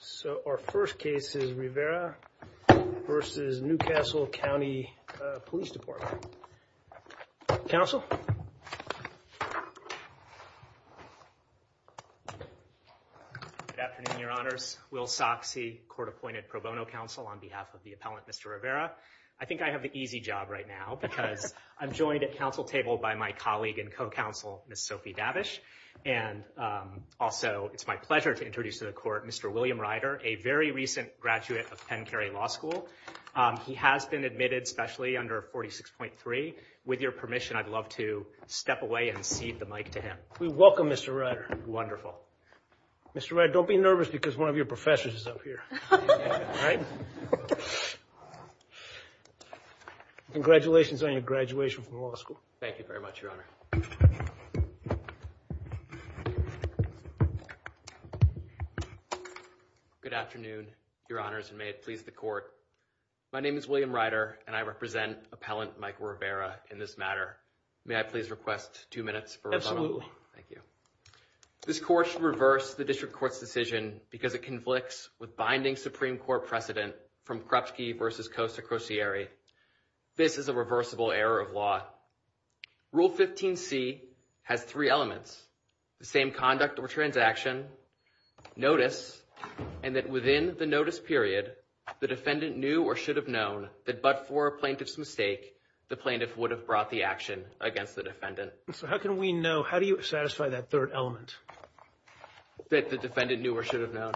So our first case is Rivera v. New Castle County Police Department. Good afternoon, Your Honors. Will Soxie, court-appointed pro bono counsel on behalf of the appellant, Mr. Rivera. I think I have the easy job right now because I'm joined at council table by my colleague and co-counsel, Ms. Sophie Davish, and also it's my pleasure to introduce to the court Mr. William Ryder, a very recent graduate of Penn Cary Law School. He has been admitted specially under 46.3. With your permission, I'd love to step away and cede the mic to him. You're welcome, Mr. Ryder. Wonderful. Mr. Ryder, don't be nervous because one of your professors is up here. All right. Congratulations on your graduation from law school. Thank you very much, Your Honor. Good afternoon, Your Honors, and may it please the court. My name is William Ryder, and I represent appellant Mike Rivera in this matter. May I please request two minutes for rebuttal? Thank you. This court should reverse the district court's decision because it conflicts with binding Supreme Court precedent from Krupsky v. Costa-Crocieri. This is a reversible error of law. Rule 15C has three elements, the same conduct or transaction, notice, and that within the notice period, the defendant knew or should have known that but for a plaintiff's mistake, the plaintiff would have brought the action against the defendant. So how can we know? How do you satisfy that third element? That the defendant knew or should have known.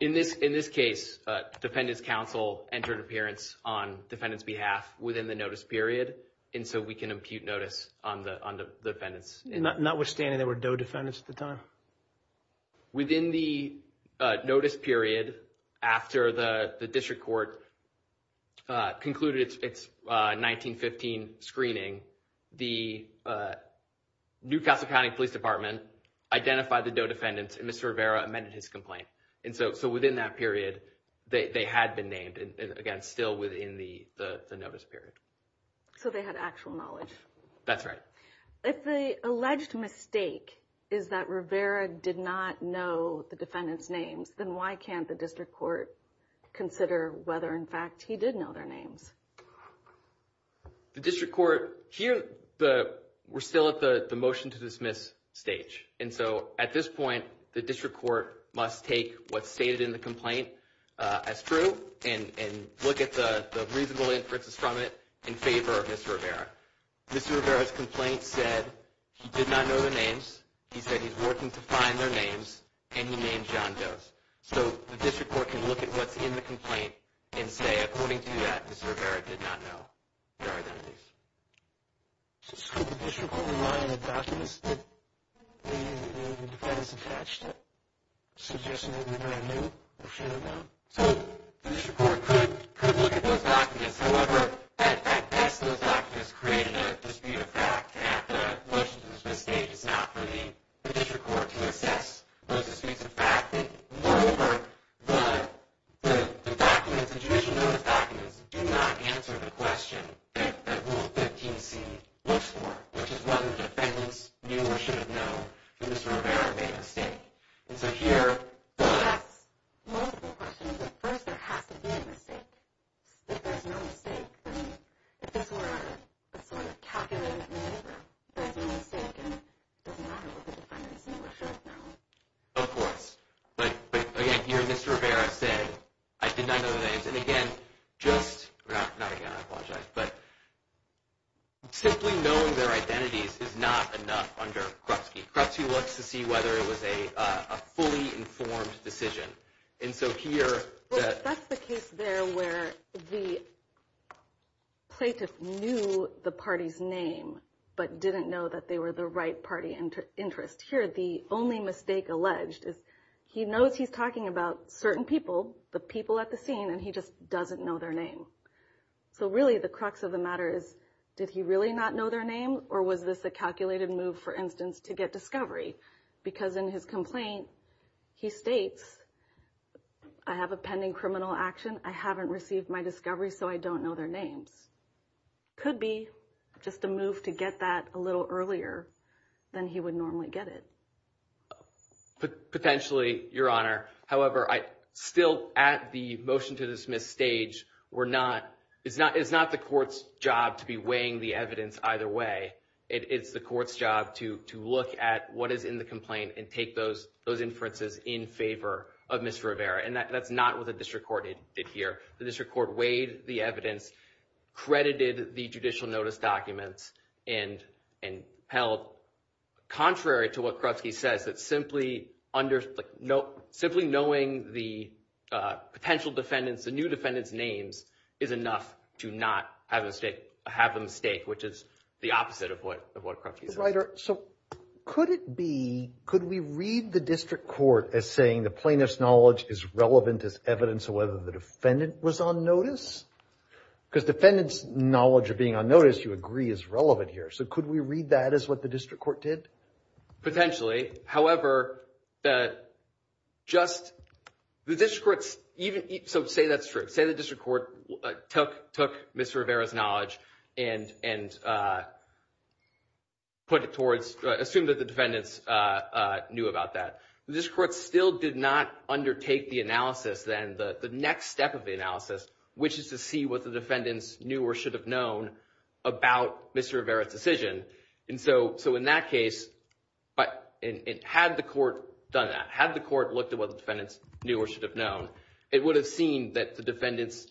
In this case, defendant's counsel entered appearance on defendant's behalf within the notice period, and so we can impute notice on the defendants. Notwithstanding, there were no defendants at the time. Within the notice period after the district court concluded its 1915 screening, the New Castle County Police Department identified the no defendants, and Mr. Rivera amended his complaint. And so within that period, they had been named, and again, still within the notice period. So they had actual knowledge. That's right. If the alleged mistake is that Rivera did not know the defendants' names, then why can't the district court consider whether in fact he did know their names? The district court here, we're still at the motion to dismiss stage. And so at this point, the district court must take what's stated in the complaint as true and look at the reasonable inferences from it in favor of Mr. Rivera. Mr. Rivera's complaint said he did not know their names. He said he's working to find their names, and he named John Doe's. So the district court can look at what's in the complaint and say according to that, Mr. Rivera did not know their identities. So could the district court rely on the documents that the defendants attached suggesting that Rivera knew or should have known? So the district court could look at those documents. However, at best, those documents create a dispute of fact. After a motion to dismiss stage, it's not for the district court to assess those disputes of fact. Moreover, the documents, the judicial notice documents, do not answer the question that Rule 15c looks for, which is whether the defendants knew or should have known that Mr. Rivera made a mistake. And so here, the… That's multiple questions. At first, there has to be a mistake. If there's no mistake, I mean, if this were a sort of calculated maneuver, if there's a mistake and it doesn't matter whether the defendants knew or should have known. Of course. But, again, here Mr. Rivera said, I did not know their names. And, again, just – not again, I apologize. But simply knowing their identities is not enough under Krupsky. Krupsky looks to see whether it was a fully informed decision. And so here… That's the case there where the plaintiff knew the party's name but didn't know that they were the right party interest. Here, the only mistake alleged is he knows he's talking about certain people, the people at the scene, and he just doesn't know their name. So, really, the crux of the matter is, did he really not know their name or was this a calculated move, for instance, to get discovery? Because in his complaint, he states, I have a pending criminal action. I haven't received my discovery, so I don't know their names. Could be just a move to get that a little earlier than he would normally get it. Potentially, Your Honor. However, still at the motion to dismiss stage, we're not – it's not the court's job to be weighing the evidence either way. It's the court's job to look at what is in the complaint and take those inferences in favor of Ms. Rivera. And that's not what the district court did here. The district court weighed the evidence, credited the judicial notice documents, and held contrary to what Krupski says, that simply knowing the potential defendants, the new defendants' names, is enough to not have a mistake, which is the opposite of what Krupski says. So, could it be – could we read the district court as saying the plaintiff's knowledge is relevant as evidence of whether the defendant was on notice? Because defendant's knowledge of being on notice, you agree, is relevant here. So could we read that as what the district court did? Potentially. However, just the district court's – so say that's true. Say the district court took Ms. Rivera's knowledge and put it towards – assumed that the defendants knew about that. The district court still did not undertake the analysis then, the next step of the analysis, which is to see what the defendants knew or should have known about Ms. Rivera's decision. And so in that case, had the court done that, had the court looked at what the defendants knew or should have known, it would have seemed that the defendants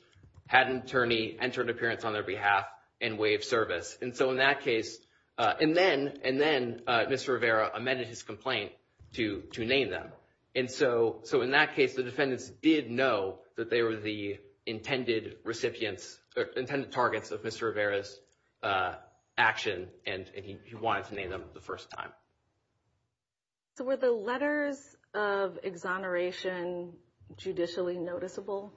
had an attorney, entered an appearance on their behalf, and way of service. And so in that case – and then Mr. Rivera amended his complaint to name them. And so in that case, the defendants did know that they were the intended recipients – or intended targets of Mr. Rivera's action, and he wanted to name them the first time. So were the letters of exoneration judicially noticeable?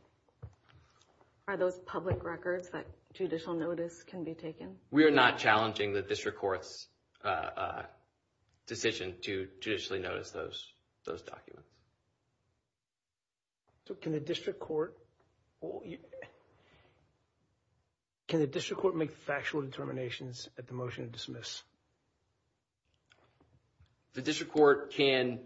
Are those public records that judicial notice can be taken? We are not challenging the district court's decision to judicially notice those documents. Can the district court make factual determinations at the motion to dismiss? The district court cannot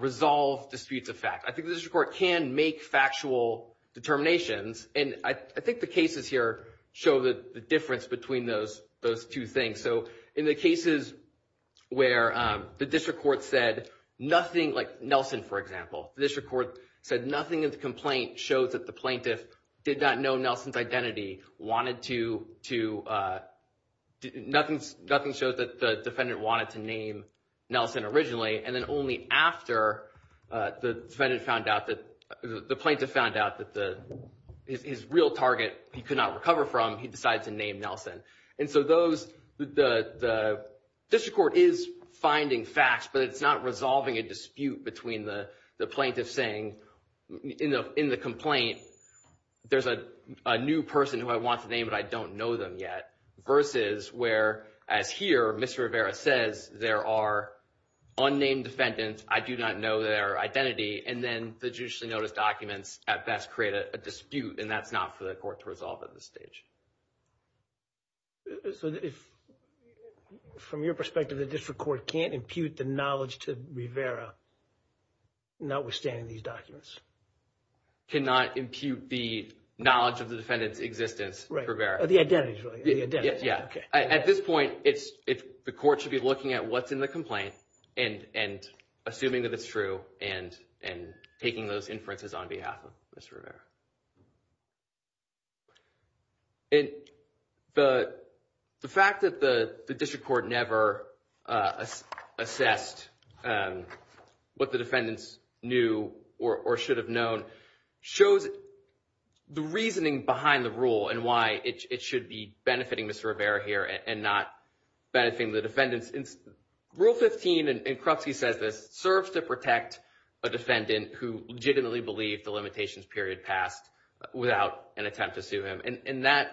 resolve disputes of fact. I think the district court can make factual determinations, and I think the cases here show the difference between those two things. So in the cases where the district court said nothing – like Nelson, for example – the district court said nothing in the complaint showed that the plaintiff did not know Nelson's identity, wanted to – nothing showed that the defendant wanted to name Nelson originally, and then only after the plaintiff found out that his real target he could not recover from, he decided to name Nelson. And so those – the district court is finding facts, but it's not resolving a dispute between the plaintiff saying in the complaint there's a new person who I want to name but I don't know them yet, versus where, as here, Ms. Rivera says there are unnamed defendants, I do not know their identity, and then the judicially noticed documents at best create a dispute, and that's not for the court to resolve at this stage. So from your perspective, the district court can't impute the knowledge to Rivera, notwithstanding these documents? Cannot impute the knowledge of the defendant's existence to Rivera. The identity, right? Yeah. At this point, the court should be looking at what's in the complaint and assuming that it's true and taking those inferences on behalf of Ms. Rivera. And the fact that the district court never assessed what the defendants knew or should have known shows the reasoning behind the rule and why it should be benefiting Ms. Rivera here and not benefiting the defendants. Rule 15, and Krupsky says this, serves to protect a defendant who legitimately believed the limitations period passed without an attempt to sue him. And that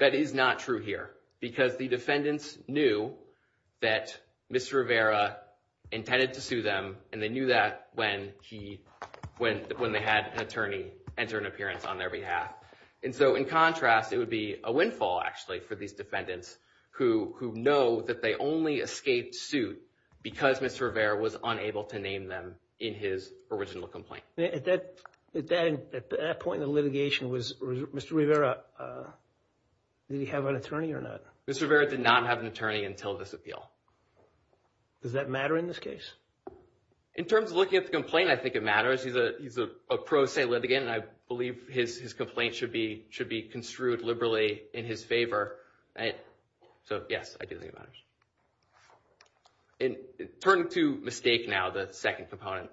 is not true here because the defendants knew that Ms. Rivera intended to sue them and they knew that when they had an attorney enter an appearance on their behalf. And so in contrast, it would be a windfall, actually, for these defendants who know that they only escaped suit because Ms. Rivera was unable to name them in his original complaint. At that point in the litigation, Mr. Rivera, did he have an attorney or not? Mr. Rivera did not have an attorney until this appeal. Does that matter in this case? In terms of looking at the complaint, I think it matters. He's a pro se litigant and I believe his complaint should be construed liberally in his favor. So yes, I do think it matters. Turning to mistake now, the second component.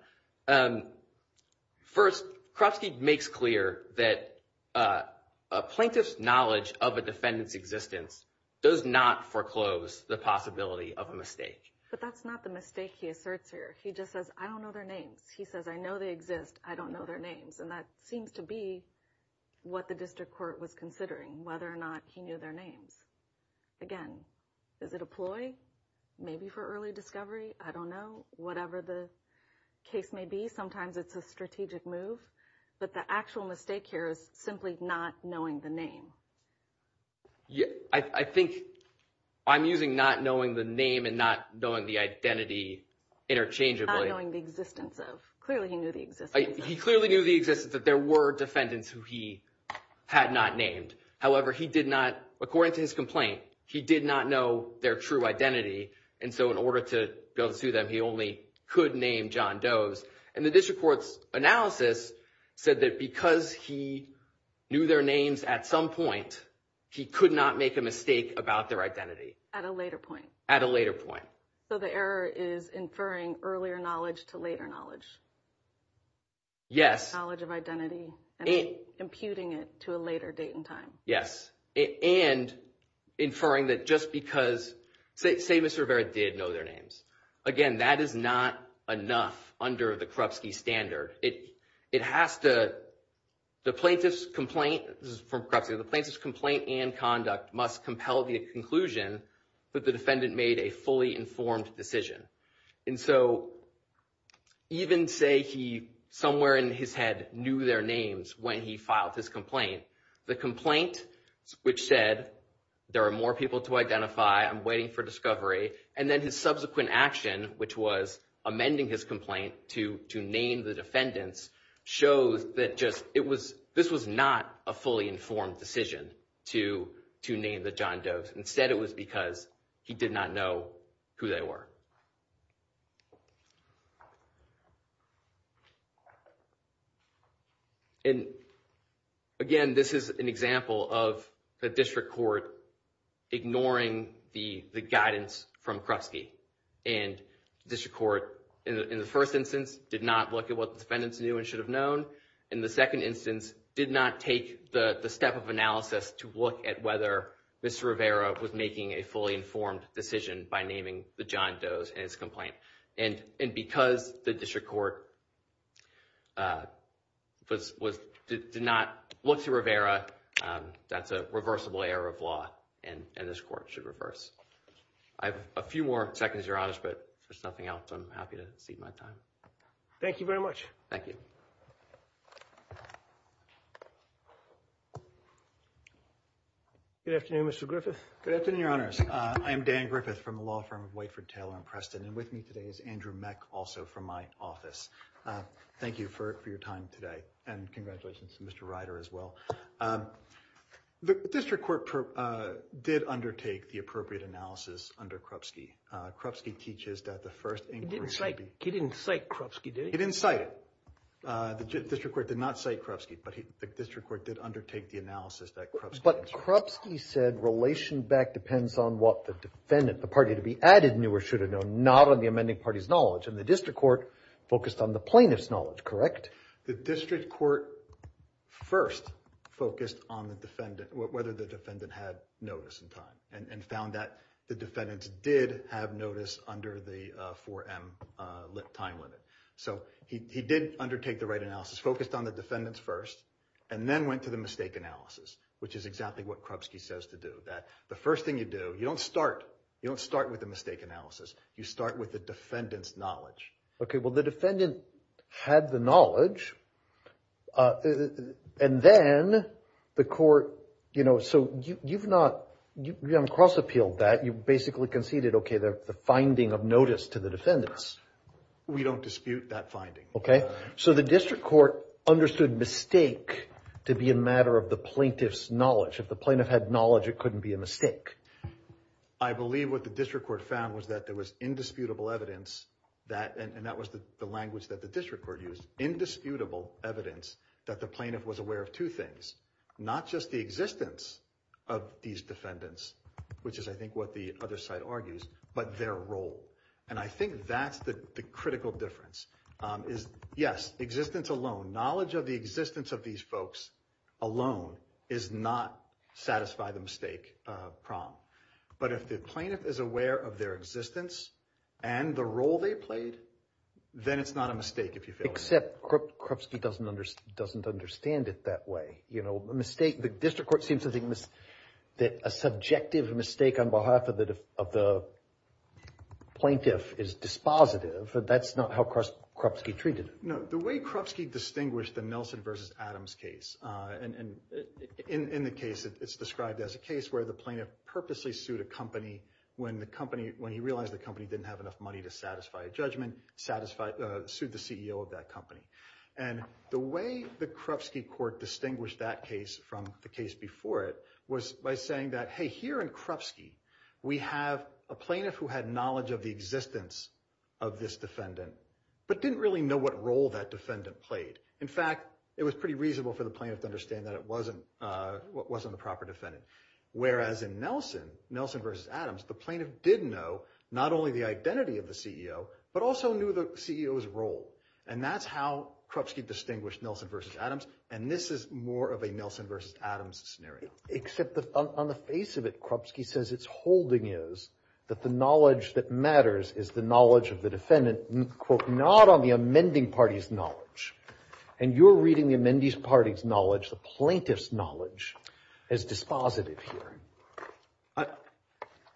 First, Krupsky makes clear that a plaintiff's knowledge of a defendant's existence does not foreclose the possibility of a mistake. But that's not the mistake he asserts here. He just says, I don't know their names. He says, I know they exist, I don't know their names. And that seems to be what the district court was considering, whether or not he knew their names. Again, is it a ploy? Maybe for early discovery? I don't know. Whatever the case may be, sometimes it's a strategic move. But the actual mistake here is simply not knowing the name. I think I'm using not knowing the name and not knowing the identity interchangeably. Not knowing the existence of. Clearly he knew the existence of. He clearly knew the existence that there were defendants who he had not named. However, he did not, according to his complaint, he did not know their true identity. And so in order to go to them, he only could name John Doe's. And the district court's analysis said that because he knew their names at some point, he could not make a mistake about their identity. At a later point. At a later point. So the error is inferring earlier knowledge to later knowledge. Yes. Knowledge of identity and imputing it to a later date and time. Yes. And inferring that just because, say Mr. Rivera did know their names. Again, that is not enough under the Krupski standard. It has to, the plaintiff's complaint, this is from Krupski, the plaintiff's complaint and conduct must compel the conclusion that the defendant made a fully informed decision. And so even say he, somewhere in his head, knew their names when he filed his complaint. The complaint, which said there are more people to identify, I'm waiting for discovery. And then his subsequent action, which was amending his complaint to name the defendants, shows that just, it was, this was not a fully informed decision to name the John Doe's. Instead it was because he did not know who they were. And again, this is an example of the district court ignoring the guidance from Krupski. And district court, in the first instance, did not look at what the defendants knew and should have known. In the second instance, did not take the step of analysis to look at whether Mr. Rivera was making a fully informed decision by naming the John Doe's in his complaint. And because the district court did not look to Rivera, that's a reversible error of law and this court should reverse. I have a few more seconds, Your Honors, but if there's nothing else, I'm happy to cede my time. Thank you very much. Thank you. Good afternoon, Mr. Griffith. Good afternoon, Your Honors. I am Dan Griffith from the law firm of Whiteford, Taylor & Preston. And with me today is Andrew Meck, also from my office. Thank you for your time today. And congratulations to Mr. Ryder as well. The district court did undertake the appropriate analysis under Krupski. Krupski teaches that the first inquiry should be— He didn't cite Krupski, did he? He didn't cite it. The district court did not cite Krupski, but the district court did undertake the analysis that Krupski— But Krupski said relation back depends on what the defendant, the party to be added, knew or should have known, not on the amending party's knowledge. And the district court focused on the plaintiff's knowledge, correct? The district court first focused on the defendant, whether the defendant had notice in time, and found that the defendants did have notice under the 4M time limit. So he did undertake the right analysis, focused on the defendants first, and then went to the mistake analysis, which is exactly what Krupski says to do. That the first thing you do, you don't start with the mistake analysis. You start with the defendant's knowledge. Okay, well, the defendant had the knowledge, and then the court— You know, so you've not—you haven't cross-appealed that. You basically conceded, okay, the finding of notice to the defendants. We don't dispute that finding. Okay. So the district court understood mistake to be a matter of the plaintiff's knowledge. If the plaintiff had knowledge, it couldn't be a mistake. I believe what the district court found was that there was indisputable evidence that—and that was the language that the district court used— indisputable evidence that the plaintiff was aware of two things. Not just the existence of these defendants, which is, I think, what the other side argues, but their role. And I think that's the critical difference. Yes, existence alone. Knowledge of the existence of these folks alone is not satisfy the mistake problem. But if the plaintiff is aware of their existence and the role they played, then it's not a mistake, if you feel that way. Except Krupski doesn't understand it that way. You know, a mistake—the district court seems to think that a subjective mistake on behalf of the plaintiff is dispositive. But that's not how Krupski treated it. No. The way Krupski distinguished the Nelson v. Adams case—and in the case, it's described as a case where the plaintiff purposely sued a company when he realized the company didn't have enough money to satisfy a judgment, sued the CEO of that company. And the way the Krupski court distinguished that case from the case before it was by saying that, hey, here in Krupski, we have a plaintiff who had knowledge of the existence of this defendant, but didn't really know what role that defendant played. In fact, it was pretty reasonable for the plaintiff to understand that it wasn't the proper defendant. Whereas in Nelson, Nelson v. Adams, the plaintiff did know not only the identity of the CEO, but also knew the CEO's role. And that's how Krupski distinguished Nelson v. Adams. And this is more of a Nelson v. Adams scenario. Except on the face of it, Krupski says its holding is that the knowledge that matters is the knowledge of the defendant, quote, not on the amending party's knowledge. And you're reading the amending party's knowledge, the plaintiff's knowledge, as dispositive here.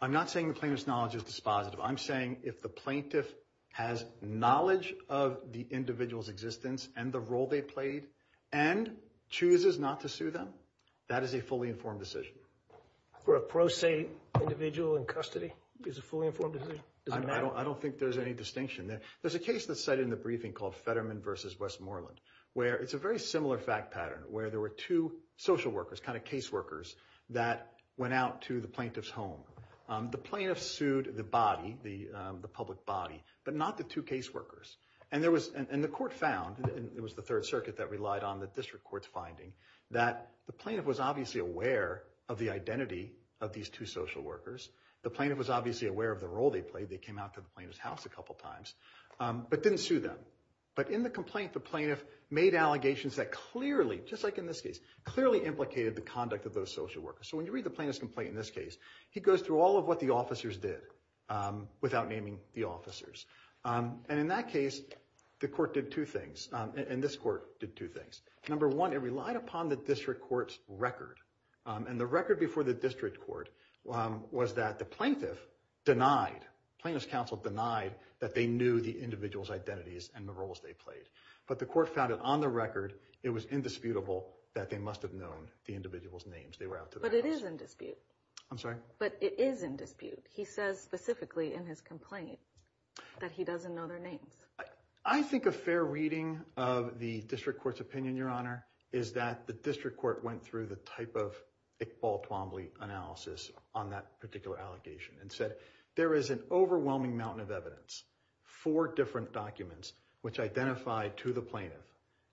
I'm not saying the plaintiff's knowledge is dispositive. I'm saying if the plaintiff has knowledge of the individual's existence and the role they played and chooses not to sue them, that is a fully informed decision. For a pro se individual in custody, is a fully informed decision? I don't think there's any distinction. There's a case that's cited in the briefing called Fetterman v. Westmoreland, where it's a very similar fact pattern, where there were two social workers, kind of case workers, that went out to the plaintiff's home. The plaintiff sued the body, the public body, but not the two case workers. And the court found, and it was the Third Circuit that relied on the district court's finding, that the plaintiff was obviously aware of the identity of these two social workers. The plaintiff was obviously aware of the role they played. They came out to the plaintiff's house a couple times, but didn't sue them. But in the complaint, the plaintiff made allegations that clearly, just like in this case, clearly implicated the conduct of those social workers. So when you read the plaintiff's complaint in this case, he goes through all of what the officers did, without naming the officers. And in that case, the court did two things, and this court did two things. Number one, it relied upon the district court's record. And the record before the district court was that the plaintiff denied, plaintiff's counsel denied that they knew the individual's identities and the roles they played. But the court found that on the record, it was indisputable that they must have known the individual's names. They were out to the house. But it is in dispute. I'm sorry? But it is in dispute. He says specifically in his complaint that he doesn't know their names. I think a fair reading of the district court's opinion, Your Honor, is that the district court went through the type of Iqbal Twombly analysis on that particular allegation and said there is an overwhelming mountain of evidence, four different documents, which identified to the plaintiff,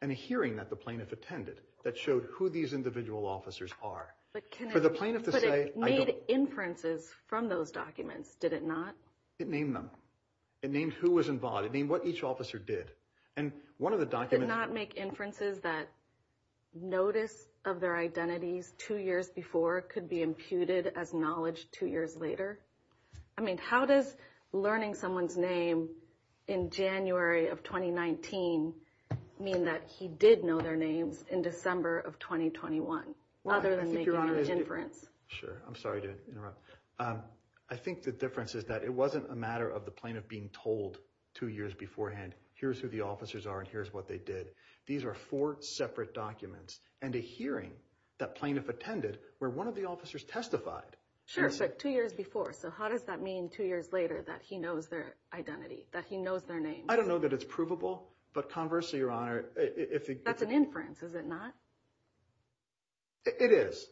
and a hearing that the plaintiff attended that showed who these individual officers are. But it made inferences from those documents, did it not? It named them. It named who was involved. It named what each officer did. And one of the documents— Did it not make inferences that notice of their identities two years before could be imputed as knowledge two years later? I mean, how does learning someone's name in January of 2019 mean that he did know their names in December of 2021 other than making an inference? Sure. I'm sorry to interrupt. I think the difference is that it wasn't a matter of the plaintiff being told two years beforehand, here's who the officers are and here's what they did. These are four separate documents and a hearing that plaintiff attended where one of the officers testified. Sure, but two years before. So how does that mean two years later that he knows their identity, that he knows their names? I don't know that it's provable, but conversely, Your Honor— That's an inference, is it not? It is,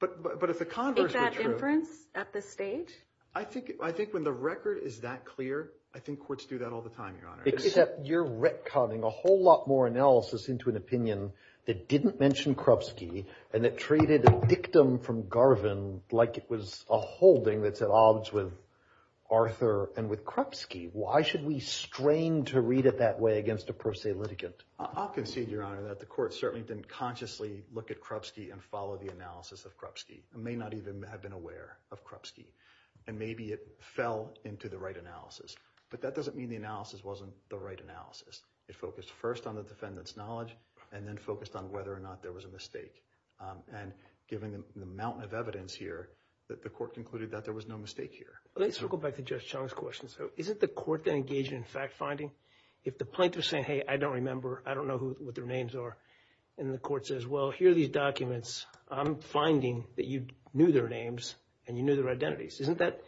but if the converse were true— Is that inference at this stage? I think when the record is that clear, I think courts do that all the time, Your Honor. Except you're retconning a whole lot more analysis into an opinion that didn't mention Krupski and that treated a dictum from Garvin like it was a holding that's at odds with Arthur and with Krupski. Why should we strain to read it that way against a per se litigant? I'll concede, Your Honor, that the court certainly didn't consciously look at Krupski and follow the analysis of Krupski. It may not even have been aware of Krupski. And maybe it fell into the right analysis. But that doesn't mean the analysis wasn't the right analysis. It focused first on the defendant's knowledge and then focused on whether or not there was a mistake. And given the mountain of evidence here, the court concluded that there was no mistake here. Let's go back to Judge Chung's question. So isn't the court then engaged in fact-finding? If the plaintiff is saying, hey, I don't remember, I don't know what their names are, and the court says, well, here are these documents, I'm finding that you knew their names and you knew their identities, isn't that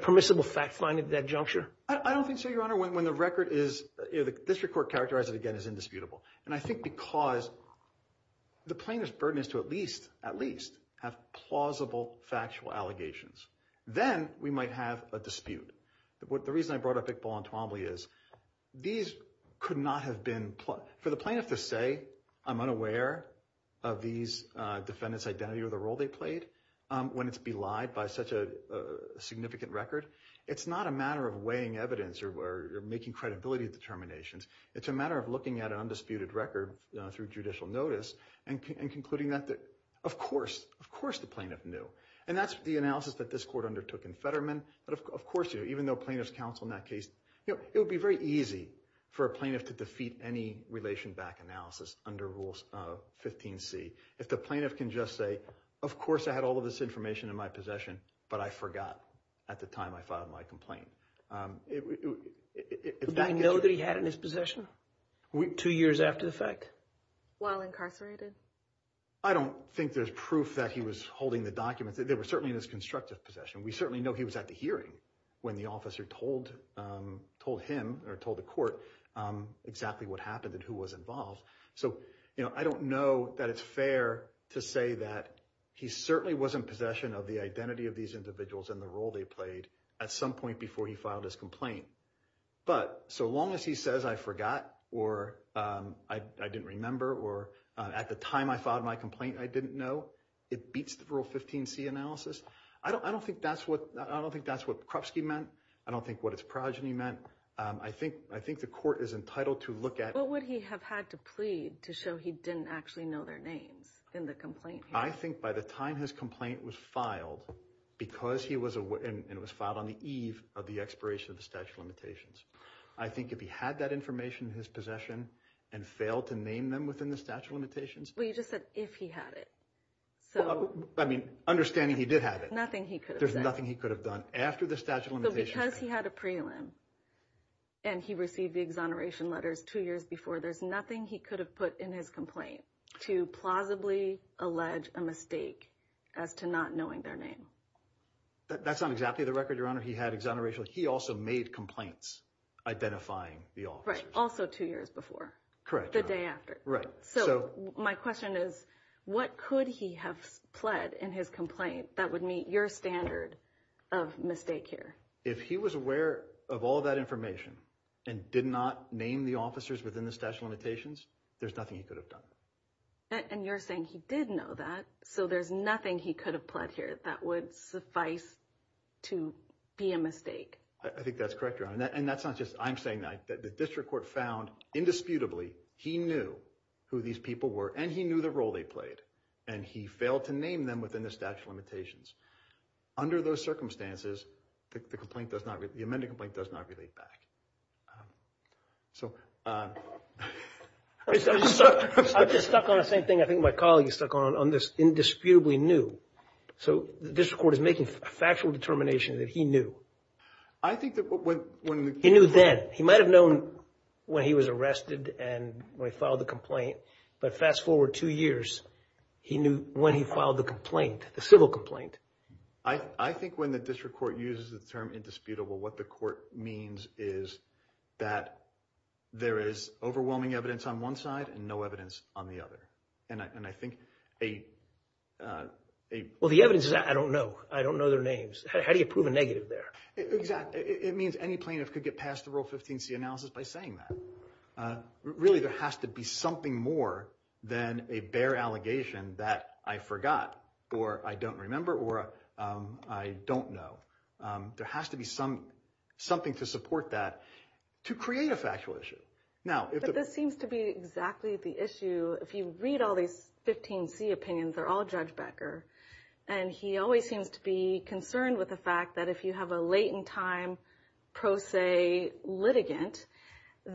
permissible fact-finding at that juncture? I don't think so, Your Honor. When the record is, you know, the district court characterized it again as indisputable. And I think because the plaintiff's burden is to at least have plausible factual allegations. Then we might have a dispute. The reason I brought up Iqbal and Twombly is these could not have been – for the plaintiff to say I'm unaware of these defendants' identity or the role they played when it's belied by such a significant record, it's not a matter of weighing evidence or making credibility determinations. It's a matter of looking at an undisputed record through judicial notice and concluding that, of course, of course the plaintiff knew. And that's the analysis that this court undertook in Fetterman. But, of course, even though plaintiff's counsel in that case – it would be very easy for a plaintiff to defeat any relation back analysis under Rule 15C if the plaintiff can just say, of course I had all of this information in my possession, but I forgot at the time I filed my complaint. Did he know that he had it in his possession two years after the fact? While incarcerated? I don't think there's proof that he was holding the documents. They were certainly in his constructive possession. We certainly know he was at the hearing when the officer told him or told the court exactly what happened and who was involved. So, you know, I don't know that it's fair to say that he certainly was in possession of the identity of these individuals and the role they played at some point before he filed his complaint. But so long as he says I forgot or I didn't remember or at the time I filed my complaint I didn't know, it beats the Rule 15C analysis. I don't think that's what Krupski meant. I don't think what its progeny meant. I think the court is entitled to look at – What would he have had to plead to show he didn't actually know their names in the complaint? I think by the time his complaint was filed, because he was aware and it was filed on the eve of the expiration of the statute of limitations, I think if he had that information in his possession and failed to name them within the statute of limitations – Well, you just said if he had it. I mean, understanding he did have it. Nothing he could have done. There's nothing he could have done after the statute of limitations. Because he had a prelim and he received the exoneration letters two years before, there's nothing he could have put in his complaint to plausibly allege a mistake as to not knowing their name. That's not exactly the record, Your Honor. He had exoneration. He also made complaints identifying the officers. Right, also two years before. Correct, Your Honor. The day after. So my question is, what could he have pled in his complaint that would meet your standard of mistake here? If he was aware of all that information and did not name the officers within the statute of limitations, there's nothing he could have done. And you're saying he did know that, so there's nothing he could have pled here that would suffice to be a mistake. I think that's correct, Your Honor. And that's not just I'm saying that. The district court found, indisputably, he knew who these people were and he knew the role they played, and he failed to name them within the statute of limitations. Under those circumstances, the amended complaint does not relate back. I'm just stuck on the same thing I think my colleague is stuck on, on this indisputably knew. So the district court is making a factual determination that he knew. I think that when… He knew then. He might have known when he was arrested and when he filed the complaint, but fast forward two years, he knew when he filed the complaint, the civil complaint. I think when the district court uses the term indisputable, what the court means is that there is overwhelming evidence on one side and no evidence on the other. And I think a… Well, the evidence is I don't know. I don't know their names. How do you prove a negative there? Exactly. It means any plaintiff could get past the Rule 15c analysis by saying that. Really, there has to be something more than a bare allegation that I forgot or I don't remember or I don't know. There has to be something to support that to create a factual issue. But this seems to be exactly the issue. If you read all these 15c opinions, they're all Judge Becker, and he always seems to be concerned with the fact that if you have a late-in-time pro se litigant,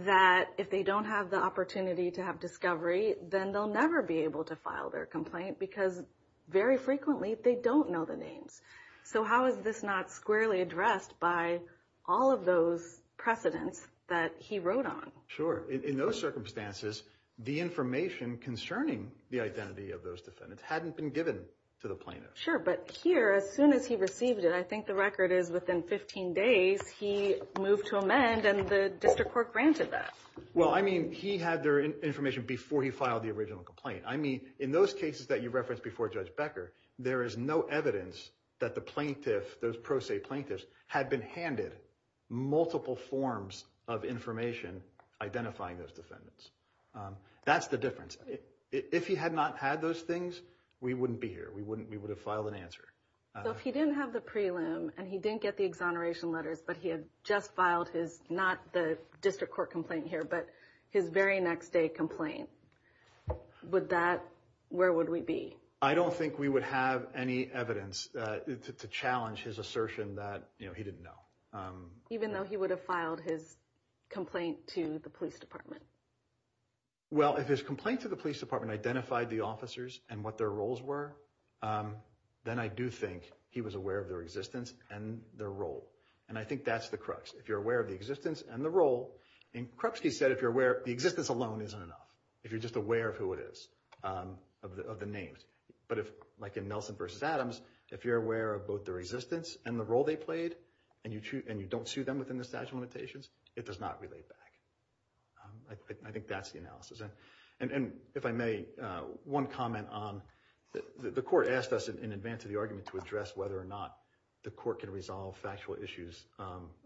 that if they don't have the opportunity to have discovery, then they'll never be able to file their complaint because very frequently they don't know the names. So how is this not squarely addressed by all of those precedents that he wrote on? Sure. In those circumstances, the information concerning the identity of those defendants hadn't been given to the plaintiff. Sure, but here, as soon as he received it, and I think the record is within 15 days, he moved to amend and the district court granted that. Well, I mean, he had their information before he filed the original complaint. I mean, in those cases that you referenced before Judge Becker, there is no evidence that the plaintiff, those pro se plaintiffs, had been handed multiple forms of information identifying those defendants. That's the difference. If he had not had those things, we wouldn't be here. We would have filed an answer. So if he didn't have the prelim and he didn't get the exoneration letters but he had just filed his, not the district court complaint here, but his very next day complaint, where would we be? I don't think we would have any evidence to challenge his assertion that he didn't know. Even though he would have filed his complaint to the police department? Well, if his complaint to the police department identified the officers and what their roles were, then I do think he was aware of their existence and their role. And I think that's the crux. If you're aware of the existence and the role, and Krupski said if you're aware, the existence alone isn't enough, if you're just aware of who it is, of the names. But like in Nelson v. Adams, if you're aware of both their existence and the role they played and you don't sue them within the statute of limitations, it does not relate back. I think that's the analysis. And if I may, one comment on the court asked us in advance of the argument to address whether or not the court can resolve factual issues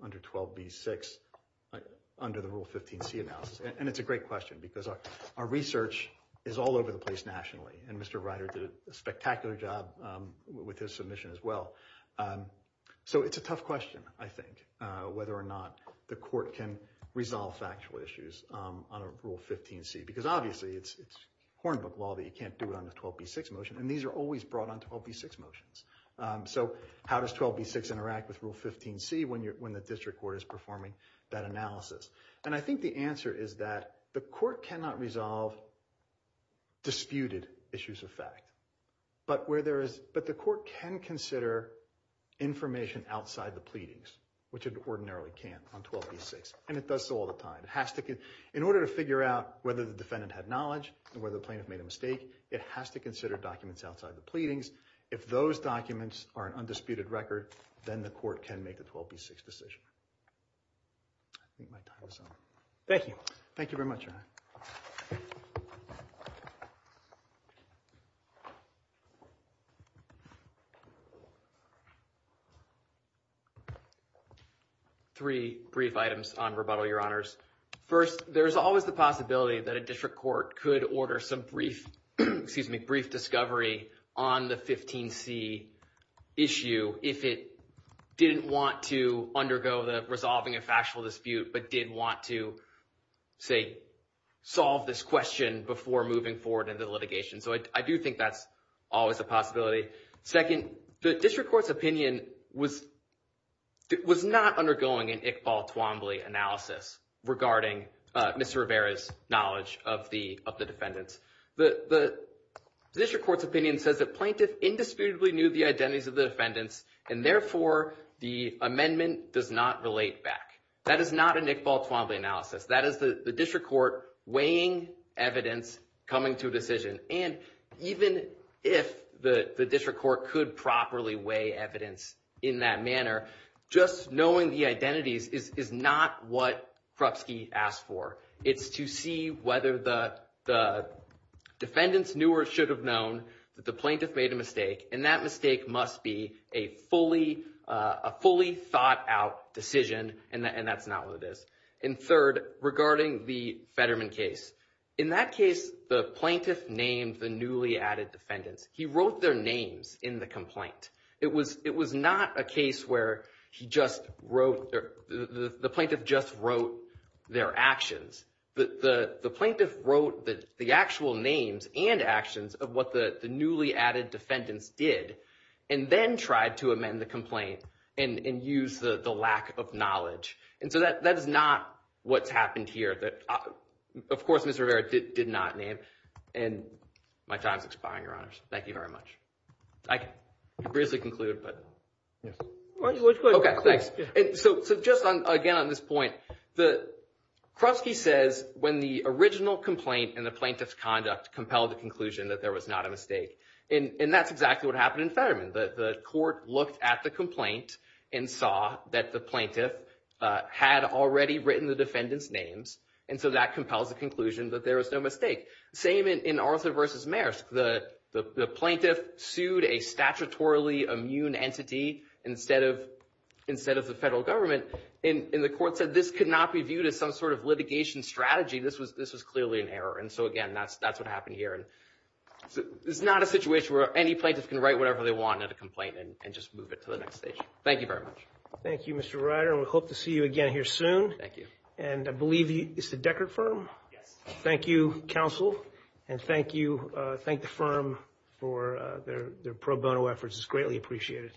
under 12b-6 under the Rule 15c analysis. And it's a great question because our research is all over the place nationally, and Mr. Ryder did a spectacular job with his submission as well. So it's a tough question, I think, whether or not the court can resolve factual issues on a Rule 15c because obviously it's Hornbook law that you can't do it on a 12b-6 motion, and these are always brought on 12b-6 motions. So how does 12b-6 interact with Rule 15c when the district court is performing that analysis? And I think the answer is that the court cannot resolve disputed issues of fact, but the court can consider information outside the pleadings, which it ordinarily can't on 12b-6, and it does so all the time. In order to figure out whether the defendant had knowledge and whether the plaintiff made a mistake, it has to consider documents outside the pleadings. If those documents are an undisputed record, then the court can make the 12b-6 decision. I think my time is up. Thank you. Thank you very much, Your Honor. Three brief items on rebuttal, Your Honors. First, there's always the possibility that a district court could order some brief discovery on the 15c issue if it didn't want to undergo the resolving a factual dispute but did want to, say, solve this question before moving forward into litigation. So I do think that's always a possibility. Second, the district court's opinion was not undergoing an Iqbal-Twombly analysis regarding Mr. Rivera's knowledge of the defendants. The district court's opinion says that plaintiff indisputably knew the identities of the defendants and, therefore, the amendment does not relate back. That is not an Iqbal-Twombly analysis. That is the district court weighing evidence coming to a decision. And even if the district court could properly weigh evidence in that manner, just knowing the identities is not what Krupski asked for. It's to see whether the defendants knew or should have known that the plaintiff made a mistake, and that mistake must be a fully thought-out decision, and that's not what it is. And third, regarding the Fetterman case, in that case, the plaintiff named the newly added defendants. He wrote their names in the complaint. It was not a case where the plaintiff just wrote their actions. The plaintiff wrote the actual names and actions of what the newly added defendants did and then tried to amend the complaint and use the lack of knowledge. And so that is not what's happened here. Of course, Mr. Rivera did not name. And my time is expiring, Your Honors. Thank you very much. I can briefly conclude, but. Okay, thanks. So just, again, on this point, Krupski says when the original complaint and the plaintiff's conduct compelled the conclusion that there was not a mistake, and that's exactly what happened in Fetterman. The court looked at the complaint and saw that the plaintiff had already written the defendants' names, and so that compels the conclusion that there was no mistake. Same in Arthur v. Maersk. The plaintiff sued a statutorily immune entity instead of the federal government, and the court said this could not be viewed as some sort of litigation strategy. This was clearly an error. And so, again, that's what happened here. It's not a situation where any plaintiff can write whatever they want in a complaint and just move it to the next stage. Thank you very much. Thank you, Mr. Ryder. We hope to see you again here soon. Thank you. And I believe it's the Deckert firm? Yes. Thank you, counsel, and thank you. Thank the firm for their pro bono efforts. It's greatly appreciated.